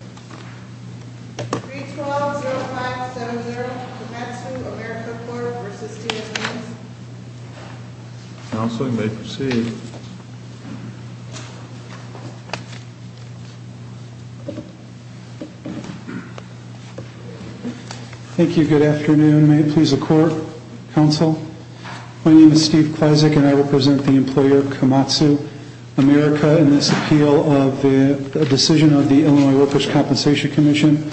312-0570 Komatsu America Corp. v. TSMC Counseling may proceed Thank you, good afternoon. May it please the Court, Counsel? My name is Steve Kleszak and I represent the employer Komatsu America in this appeal of the decision of the Illinois Workers' Compensation Commission.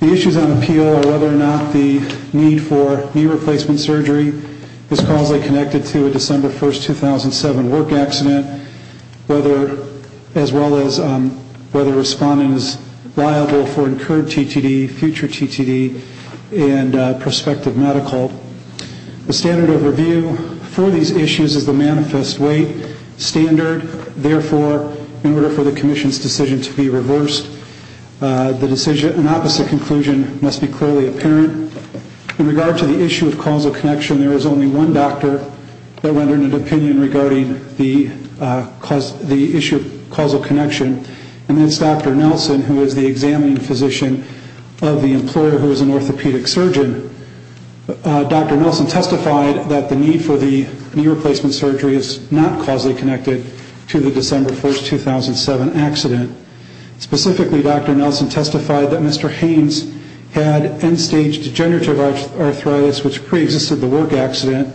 The issues on appeal are whether or not the need for knee replacement surgery is causally connected to a December 1, 2007 work accident, as well as whether a respondent is liable for incurred TTD, future TTD, and prospective medical. The standard of review for these issues is the manifest weight standard. Therefore, in order for the Commission's decision to be reversed, an opposite conclusion must be clearly apparent. In regard to the issue of causal connection, there is only one doctor that rendered an opinion regarding the issue of causal connection, and that's Dr. Nelson, who is the examining physician of the employer who is an orthopedic surgeon. Dr. Nelson testified that the need for the knee replacement surgery is not causally connected to the December 1, 2007 accident. Specifically, Dr. Nelson testified that Mr. Haynes had end-stage degenerative arthritis, which preexisted the work accident,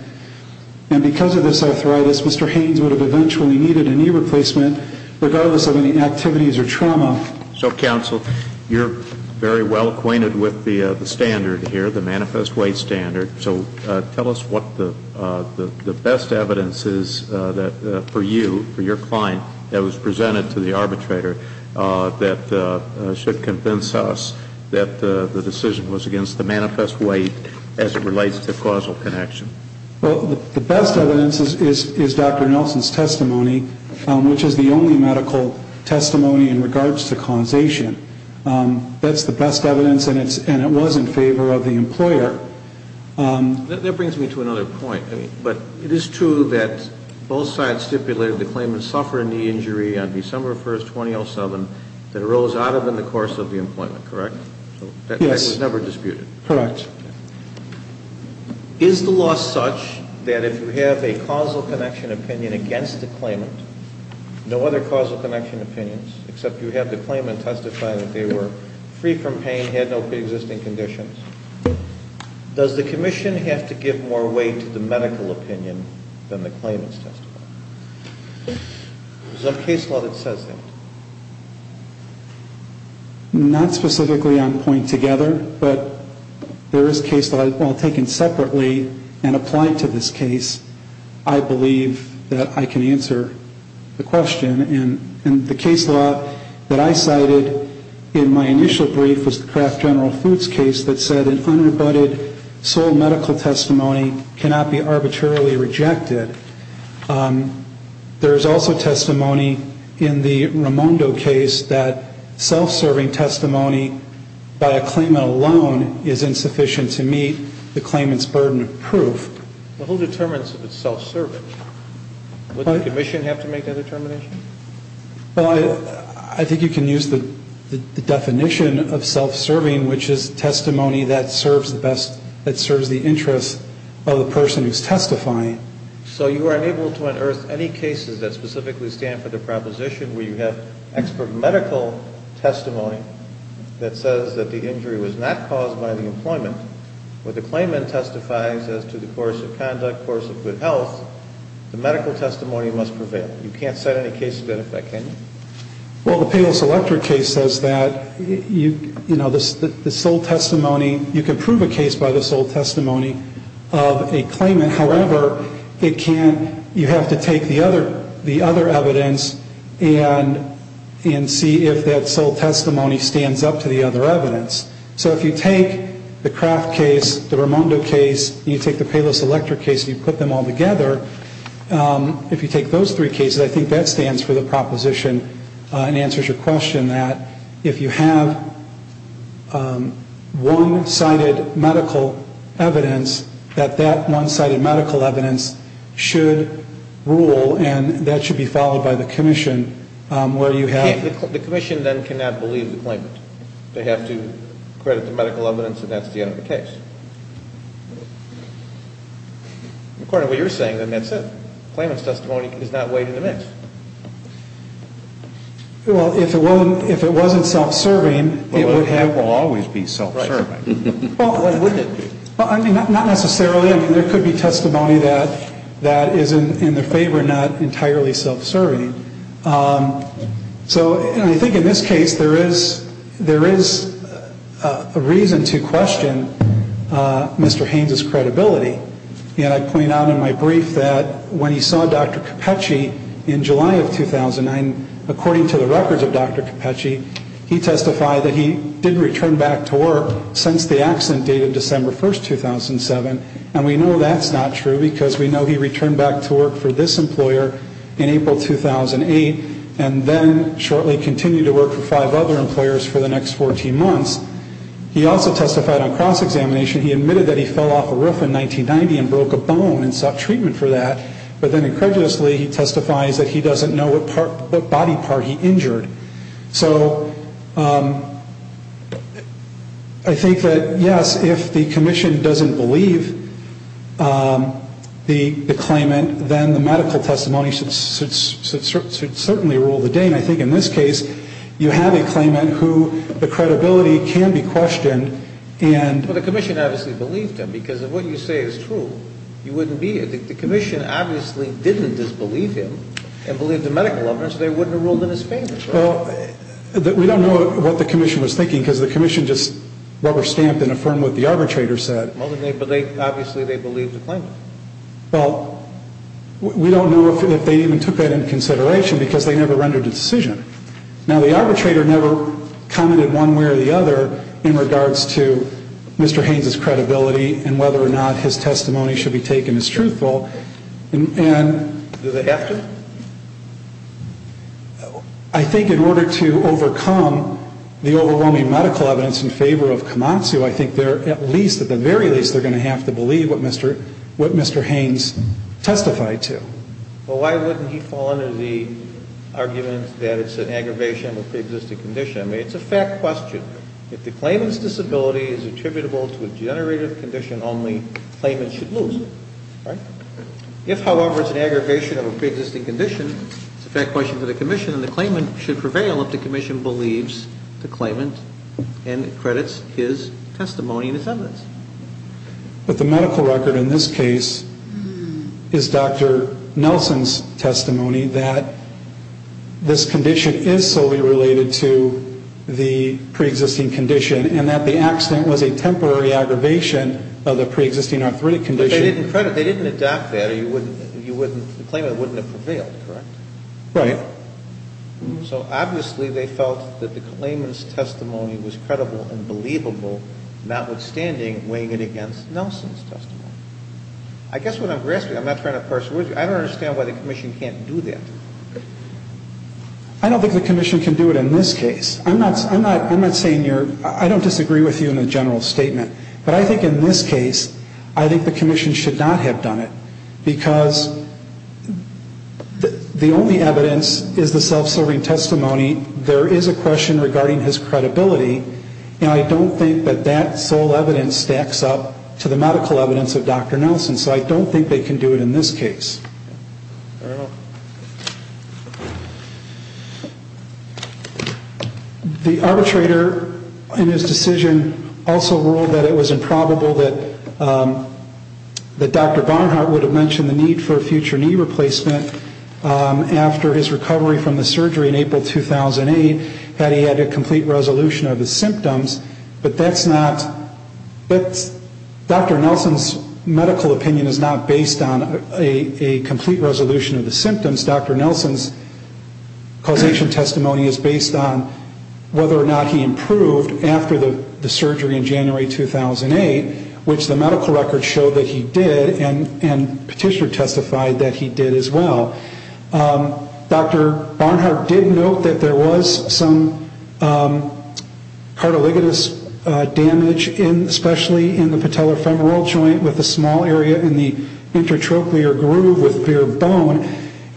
and because of this arthritis, Mr. Haynes would have eventually needed a knee replacement, regardless of any activities or trauma. So, Counsel, you're very well acquainted with the standard here, the manifest weight standard. So tell us what the best evidence is for you, for your client, that was presented to the arbitrator that should convince us that the decision was against the manifest weight as it relates to causal connection. Well, the best evidence is Dr. Nelson's testimony, which is the only medical testimony in regards to causation. That's the best evidence, and it was in favor of the employer. That brings me to another point, but it is true that both sides stipulated the claimant suffered a knee injury on December 1, 2007, that arose out of and in the course of the employment, correct? Yes. That fact was never disputed. Correct. Is the law such that if you have a causal connection opinion against the claimant, no other causal connection opinions, except you have the claimant testify that they were free from pain, had no preexisting conditions, does the commission have to give more weight to the medical opinion than the claimant's testimony? Is there a case law that says that? Not specifically on point together, but there is a case law taken separately and applied to this case. I believe that I can answer the question, and the case law that I cited in my initial brief was the Kraft General Foods case that said an unrebutted sole medical testimony cannot be arbitrarily rejected. There is also testimony in the Raimondo case that self-serving testimony by a claimant alone is insufficient to meet the claimant's burden of proof. Well, who determines if it's self-serving? Would the commission have to make that determination? Well, I think you can use the definition of self-serving, which is testimony that serves the best, that serves the interest of the person who's testifying. So you are unable to unearth any cases that specifically stand for the proposition where you have expert medical testimony that says that the injury was not caused by the employment, but the claimant testifies as to the course of conduct, course of good health, the medical testimony must prevail. You can't set any case to that effect, can you? Well, the Pales Electric case says that, you know, the sole testimony, you can prove a case by the sole testimony of a claimant. However, you have to take the other evidence and see if that sole testimony stands up to the other evidence. So if you take the Kraft case, the Raimondo case, and you take the Pales Electric case and you put them all together, if you take those three cases, I think that stands for the proposition and answers your question that if you have one-sided medical evidence, that that one-sided medical evidence should rule and that should be followed by the commission where you have... The commission then cannot believe the claimant. They have to credit the medical evidence and that's the end of the case. According to what you're saying, then that's it. Claimant's testimony is not weighed in the mix. Well, if it wasn't self-serving, it would have... It will always be self-serving. Well, I mean, not necessarily. I mean, there could be testimony that is in their favor and not entirely self-serving. So I think in this case, there is a reason to question Mr. Haynes' credibility. And I point out in my brief that when he saw Dr. Capecci in July of 2009, according to the records of Dr. Capecci, he testified that he didn't return back to work since the accident dated December 1, 2007. And we know that's not true because we know he returned back to work for this employer in April 2008 and then shortly continued to work for five other employers for the next 14 months. He also testified on cross-examination. He admitted that he fell off a roof in 1990 and broke a bone and sought treatment for that. But then incredulously, he testifies that he doesn't know what body part he injured. So I think that, yes, if the commission doesn't believe the claimant, then the medical testimony should certainly rule the day. And I think in this case, you have a claimant who the credibility can be questioned and... Well, the commission obviously believed him because if what you say is true, you wouldn't be. The commission obviously didn't disbelieve him and believed the medical evidence. They wouldn't have ruled in his favor. Well, we don't know what the commission was thinking because the commission just rubber-stamped and affirmed what the arbitrator said. But obviously they believed the claimant. Well, we don't know if they even took that into consideration because they never rendered a decision. Now, the arbitrator never commented one way or the other in regards to Mr. Haynes' credibility and whether or not his testimony should be taken as truthful. And... Do they have to? I think in order to overcome the overwhelming medical evidence in favor of Komatsu, I think they're at least, at the very least, they're going to have to believe what Mr. Haynes testified to. Well, why wouldn't he fall under the argument that it's an aggravation of the existing condition? I mean, it's a fact question. If the claimant's disability is attributable to a degenerative condition only, the claimant should lose. Right? If, however, it's an aggravation of a preexisting condition, it's a fact question to the commission, and the claimant should prevail if the commission believes the claimant and accredits his testimony and his evidence. But the medical record in this case is Dr. Nelson's testimony that this condition is solely related to the preexisting condition and that the accident was a temporary aggravation of the preexisting arthritic condition. But they didn't credit, they didn't adopt that, or you wouldn't, the claimant wouldn't have prevailed, correct? Right. So, obviously, they felt that the claimant's testimony was credible and believable, notwithstanding weighing it against Nelson's testimony. I guess what I'm grasping, I'm not trying to persuade you, but I don't understand why the commission can't do that. I don't think the commission can do it in this case. I'm not saying you're, I don't disagree with you in a general statement. But I think in this case, I think the commission should not have done it because the only evidence is the self-serving testimony. There is a question regarding his credibility, and I don't think that that sole evidence stacks up to the medical evidence of Dr. Nelson. So I don't think they can do it in this case. The arbitrator in his decision also ruled that it was improbable that Dr. Barnhart would have mentioned the need for a future knee replacement after his recovery from the surgery in April 2008, had he had a complete resolution of his symptoms. But that's not, Dr. Nelson's medical opinion is not based on a complete resolution of the symptoms. Dr. Nelson's causation testimony is based on whether or not he improved after the surgery in January 2008, which the medical records show that he did, and Petitioner testified that he did as well. Dr. Barnhart did note that there was some cartilaginous damage, especially in the patellofemoral joint with a small area in the intertrochlear groove with bare bone,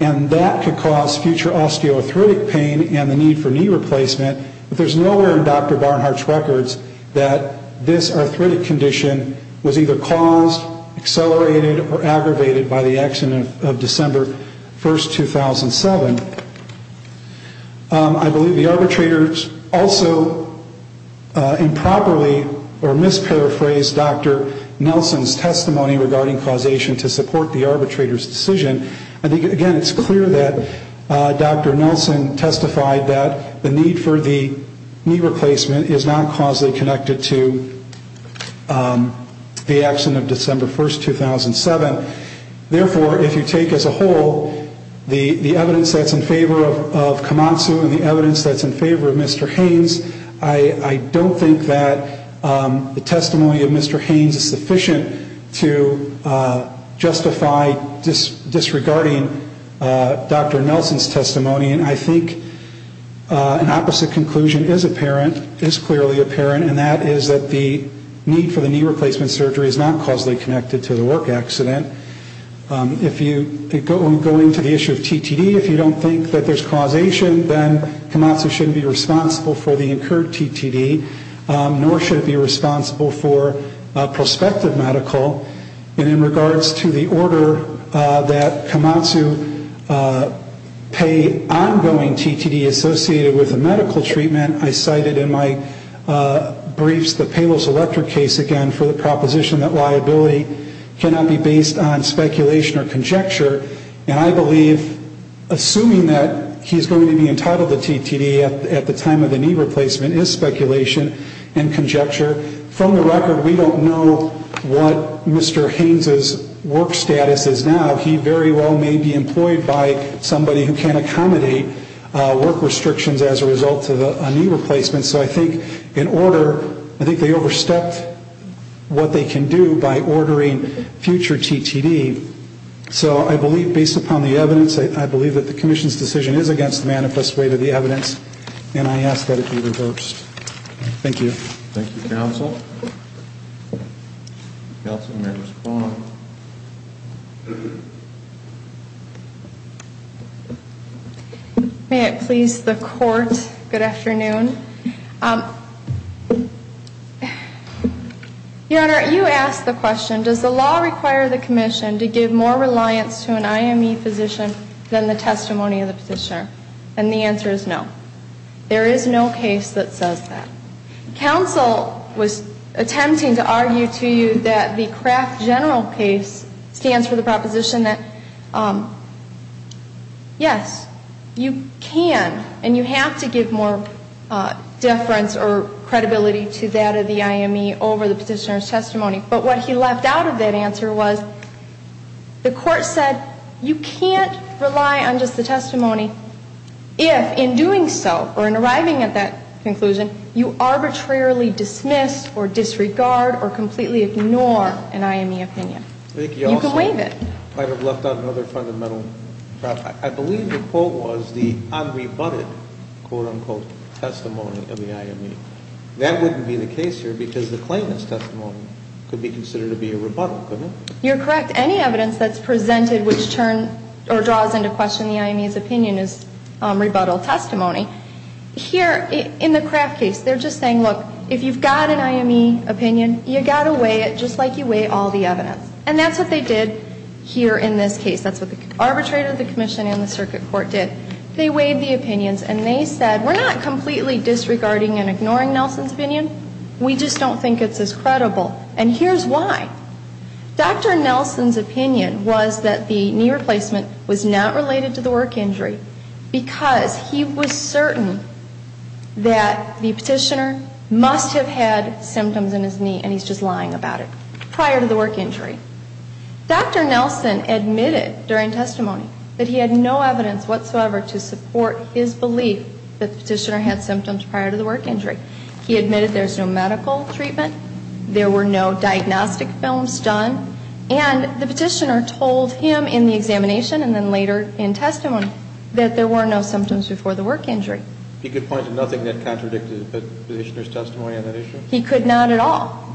and that could cause future osteoarthritic pain and the need for knee replacement. But there's nowhere in Dr. Barnhart's records that this arthritic condition was either caused, accelerated, or aggravated by the action of December 1, 2007. I believe the arbitrators also improperly or misparaphrased Dr. Nelson's testimony regarding causation to support the arbitrator's decision. I think, again, it's clear that Dr. Nelson testified that the need for the knee replacement is not causally connected to the action of December 1, 2007. Therefore, if you take as a whole the evidence that's in favor of Komatsu and the evidence that's in favor of Mr. Haynes, I don't think that the testimony of Mr. Haynes is sufficient to justify disregarding Dr. Nelson's testimony. And I think an opposite conclusion is apparent, is clearly apparent, and that is that the need for the knee replacement surgery is not causally connected to the work accident. If you go into the issue of TTD, if you don't think that there's causation, then Komatsu shouldn't be responsible for the incurred TTD, nor should it be responsible for prospective medical. And in regards to the order that Komatsu pay ongoing TTD associated with a medical treatment, I cited in my briefs the Palos Electric case again for the proposition that liability cannot be based on speculation or conjecture. And I believe, assuming that he's going to be entitled to TTD at the time of the knee replacement is speculation and conjecture. From the record, we don't know what Mr. Haynes' work status is now. He very well may be employed by somebody who can't accommodate work restrictions as a result of a knee replacement. So I think in order, I think they overstepped what they can do by ordering future TTD. So I believe, based upon the evidence, I believe that the commission's decision is against the manifest way to the evidence, and I ask that it be reversed. Thank you. Thank you, counsel. Counsel, may I respond? May it please the court. Good afternoon. Your Honor, you asked the question, does the law require the commission to give more reliance to an IME physician than the testimony of the physician? And the answer is no. There is no case that says that. Counsel was attempting to argue to you that the Kraft General case stands for the proposition that, yes, you can, and you have to give more deference or credibility to that of the IME over the petitioner's testimony. But what he left out of that answer was the court said you can't rely on just the testimony if, in doing so, or in arriving at that conclusion, you arbitrarily dismiss or disregard or completely ignore an IME opinion. You can waive it. I think you also might have left out another fundamental problem. I believe the quote was the unrebutted, quote, unquote, testimony of the IME. That wouldn't be the case here because the claimant's testimony could be considered to be a rebuttal, couldn't it? You're correct. Any evidence that's presented which draws into question the IME's opinion is rebuttal testimony. Here, in the Kraft case, they're just saying, look, if you've got an IME opinion, you've got to weigh it just like you weigh all the evidence. And that's what they did here in this case. That's what the arbitrator, the commission, and the circuit court did. They weighed the opinions and they said, we're not completely disregarding and ignoring Nelson's opinion. We just don't think it's as credible. And here's why. Dr. Nelson's opinion was that the knee replacement was not related to the work injury because he was certain that the petitioner must have had symptoms in his knee and he's just lying about it prior to the work injury. Dr. Nelson admitted during testimony that he had no evidence whatsoever to support his belief that the petitioner had symptoms prior to the work injury. He admitted there's no medical treatment. There were no diagnostic films done. And the petitioner told him in the examination and then later in testimony that there were no symptoms before the work injury. He could point to nothing that contradicted the petitioner's testimony on that issue? He could not at all.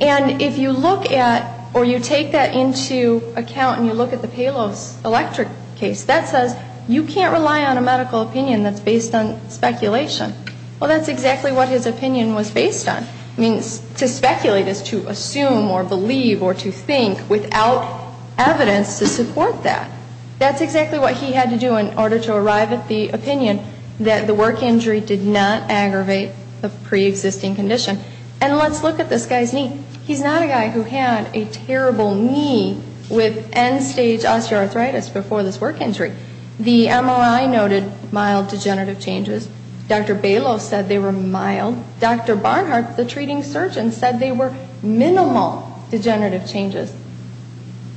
And if you look at or you take that into account and you look at the Palos Electric case, that says you can't rely on a medical opinion that's based on speculation. Well, that's exactly what his opinion was based on. I mean, to speculate is to assume or believe or to think without evidence to support that. That's exactly what he had to do in order to arrive at the opinion that the work injury did not aggravate the preexisting condition. And let's look at this guy's knee. He's not a guy who had a terrible knee with end-stage osteoarthritis before this work injury. The MRI noted mild degenerative changes. Dr. Balos said they were mild. Dr. Barnhart, the treating surgeon, said they were minimal degenerative changes.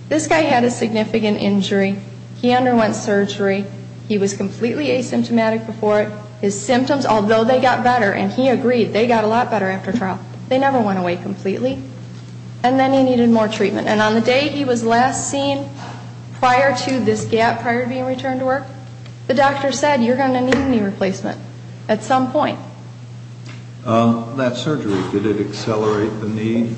This guy had a significant injury. He underwent surgery. He was completely asymptomatic before it. His symptoms, although they got better, and he agreed, they got a lot better after trial. They never went away completely. And then he needed more treatment. And on the day he was last seen prior to this gap, prior to being returned to work, the doctor said you're going to need a knee replacement at some point. That surgery, did it accelerate the need?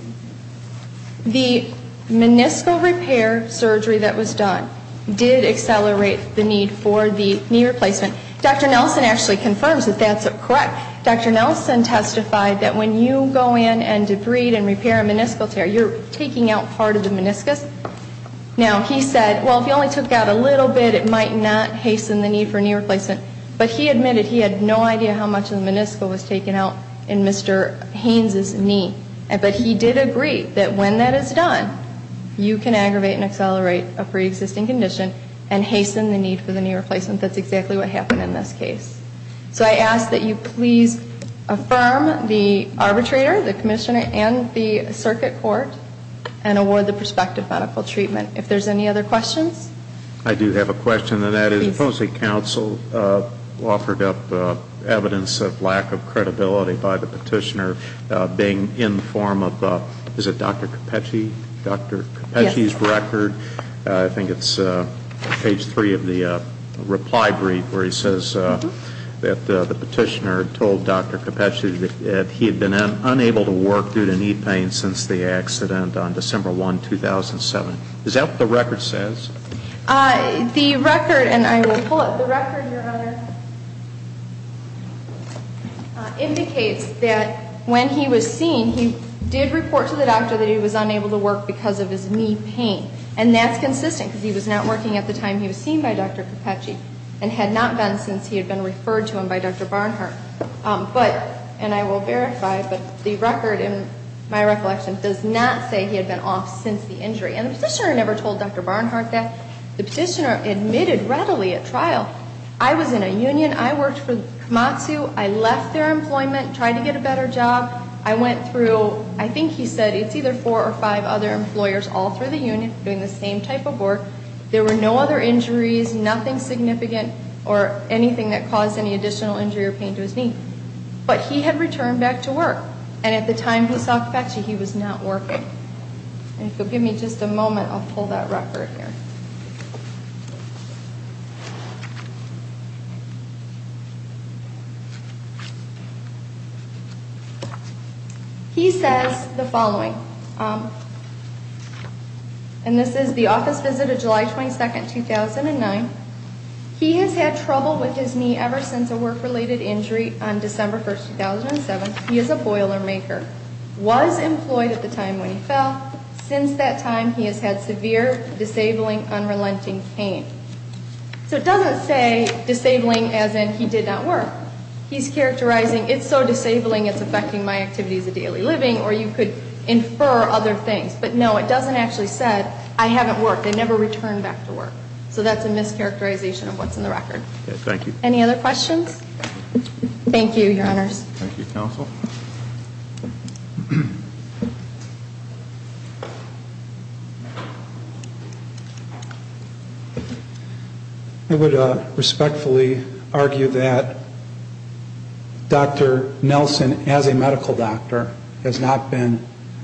The meniscal repair surgery that was done did accelerate the need for the knee replacement. Dr. Nelson actually confirms that that's correct. Dr. Nelson testified that when you go in and debride and repair a meniscal tear, you're taking out part of the meniscus. Now, he said, well, if you only took out a little bit, it might not hasten the need for a knee replacement. But he admitted he had no idea how much of the meniscal was taken out in Mr. Haynes' knee. But he did agree that when that is done, you can aggravate and accelerate a preexisting condition and hasten the need for the knee replacement. That's exactly what happened in this case. So I ask that you please affirm the arbitrator, the commissioner, and the circuit court and award the prospective medical treatment. If there's any other questions? I do have a question, and that is supposedly counsel offered up evidence of lack of credibility by the petitioner being in the form of, is it Dr. Cappucci? Dr. Cappucci's record. I think it's page three of the reply brief where he says that the petitioner told Dr. Cappucci that he had been unable to work due to knee pain since the accident on December 1, 2007. Is that what the record says? The record, and I will pull it. The record, Your Honor, indicates that when he was seen, he did report to the doctor that he was unable to work because of his knee pain. And that's consistent because he was not working at the time he was seen by Dr. Cappucci and had not been since he had been referred to him by Dr. Barnhart. But, and I will verify, but the record in my recollection does not say he had been off since the injury. And the petitioner never told Dr. Barnhart that. The petitioner admitted readily at trial. I was in a union. I worked for Komatsu. I left their employment, tried to get a better job. I went through, I think he said it's either four or five other employers all through the union doing the same type of work. There were no other injuries, nothing significant or anything that caused any additional injury or pain to his knee. But he had returned back to work. And at the time he saw Cappucci, he was not working. And if you'll give me just a moment, I'll pull that record here. He says the following. And this is the office visit of July 22, 2009. He has had trouble with his knee ever since a work-related injury on December 1, 2007. He is a boiler maker. Was employed at the time when he fell. Since that time, he has had severe, disabling, unrelenting pain. So it doesn't say disabling as in he did not work. He's characterizing it's so disabling it's affecting my activities of daily living or you could infer other things. But, no, it doesn't actually say I haven't worked. I never returned back to work. So that's a mischaracterization of what's in the record. Thank you. Any other questions? Thank you, Your Honors. Thank you, Counsel. I would respectfully argue that Dr. Nelson, as a medical doctor, has not been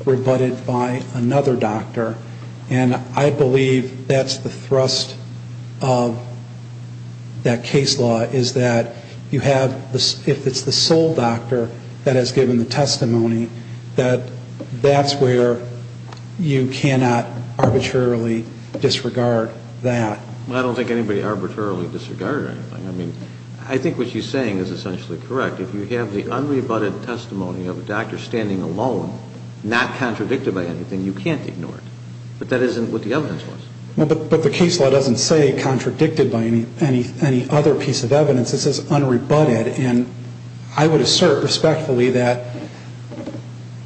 rebutted by another doctor. And I believe that's the thrust of that case law is that you have, if it's the sole doctor that has given the testimony, that that's where you cannot arbitrarily disregard that. Well, I don't think anybody arbitrarily disregarded anything. I mean, I think what she's saying is essentially correct. If you have the unrebutted testimony of a doctor standing alone, not contradicted by anything, you can't ignore it. But that isn't what the evidence was. But the case law doesn't say contradicted by any other piece of evidence. It says unrebutted. And I would assert respectfully that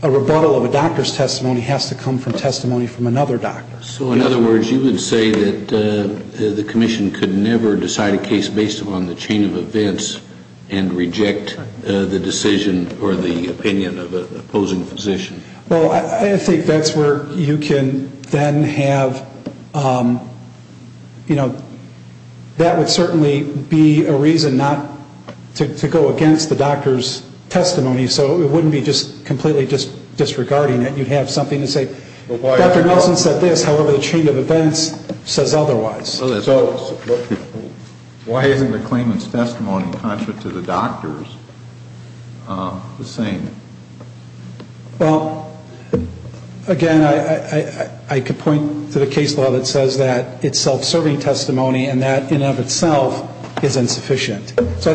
a rebuttal of a doctor's testimony has to come from testimony from another doctor. So, in other words, you would say that the commission could never decide a case based upon the chain of events and reject the decision or the opinion of an opposing physician? Well, I think that's where you can then have, you know, that would certainly be a reason not to go against the doctor's testimony. So it wouldn't be just completely disregarding it. I think you'd have something to say, Dr. Nelson said this, however, the chain of events says otherwise. So why isn't the claimant's testimony contrary to the doctor's the same? Well, again, I could point to the case law that says that it's self-serving testimony and that in and of itself is insufficient. So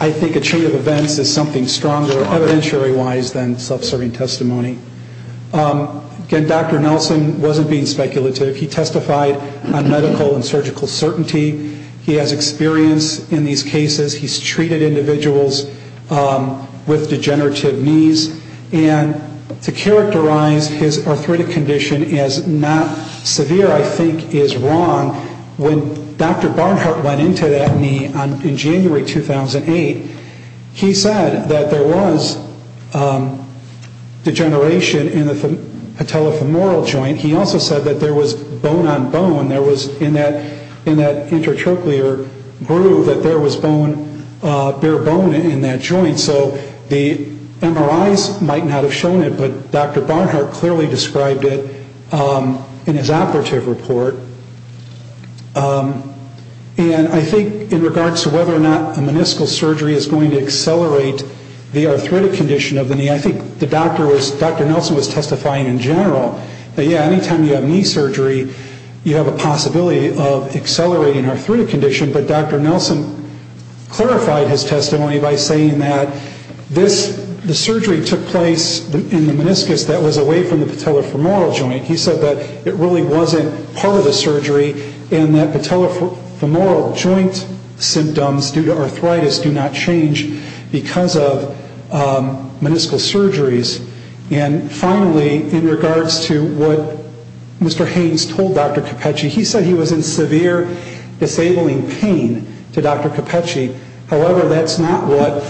I think a chain of events is something stronger evidentiary-wise than self-serving testimony. Again, Dr. Nelson wasn't being speculative. He testified on medical and surgical certainty. He has experience in these cases. He's treated individuals with degenerative knees. And to characterize his arthritic condition as not severe, I think, is wrong. When Dr. Barnhart went into that knee in January 2008, he said that there was degeneration in the patellofemoral joint. He also said that there was bone on bone. There was in that intertracheal groove that there was bone, bare bone in that joint. So the MRIs might not have shown it, but Dr. Barnhart clearly described it in his operative report. And I think in regards to whether or not a meniscal surgery is going to accelerate the arthritic condition of the knee, I think Dr. Nelson was testifying in general that, yeah, any time you have knee surgery, you have a possibility of accelerating arthritic condition. But Dr. Nelson clarified his testimony by saying that the surgery took place in the meniscus that was away from the patellofemoral joint. He said that it really wasn't part of the surgery and that patellofemoral joint symptoms due to arthritis do not change because of meniscal surgeries. And finally, in regards to what Mr. Haynes told Dr. Cappucci, he said he was in severe disabling pain to Dr. Cappucci. However, that's not what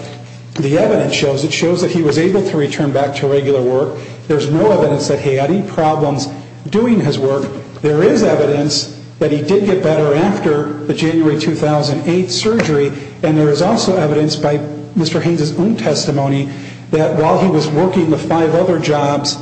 the evidence shows. It shows that he was able to return back to regular work. There's no evidence that he had any problems doing his work. There is evidence that he did get better after the January 2008 surgery. And there is also evidence by Mr. Haynes' own testimony that while he was working the five other jobs,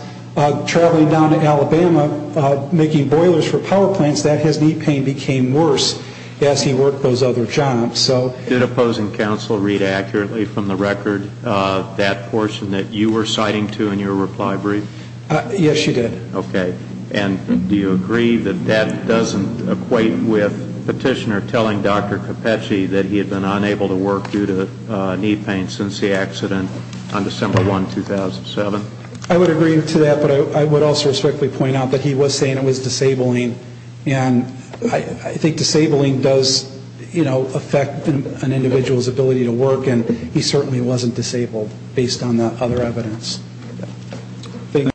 traveling down to Alabama making boilers for power plants, that his knee pain became worse as he worked those other jobs. Did opposing counsel read accurately from the record that portion that you were citing to in your reply brief? Yes, she did. Okay. And do you agree that that doesn't equate with petitioner telling Dr. Cappucci that he had been unable to work due to knee pain since the accident on December 1, 2007? I would agree to that, but I would also strictly point out that he was saying it was disabling. And I think disabling does, you know, affect an individual's ability to work, and he certainly wasn't disabled based on the other evidence. Thank you.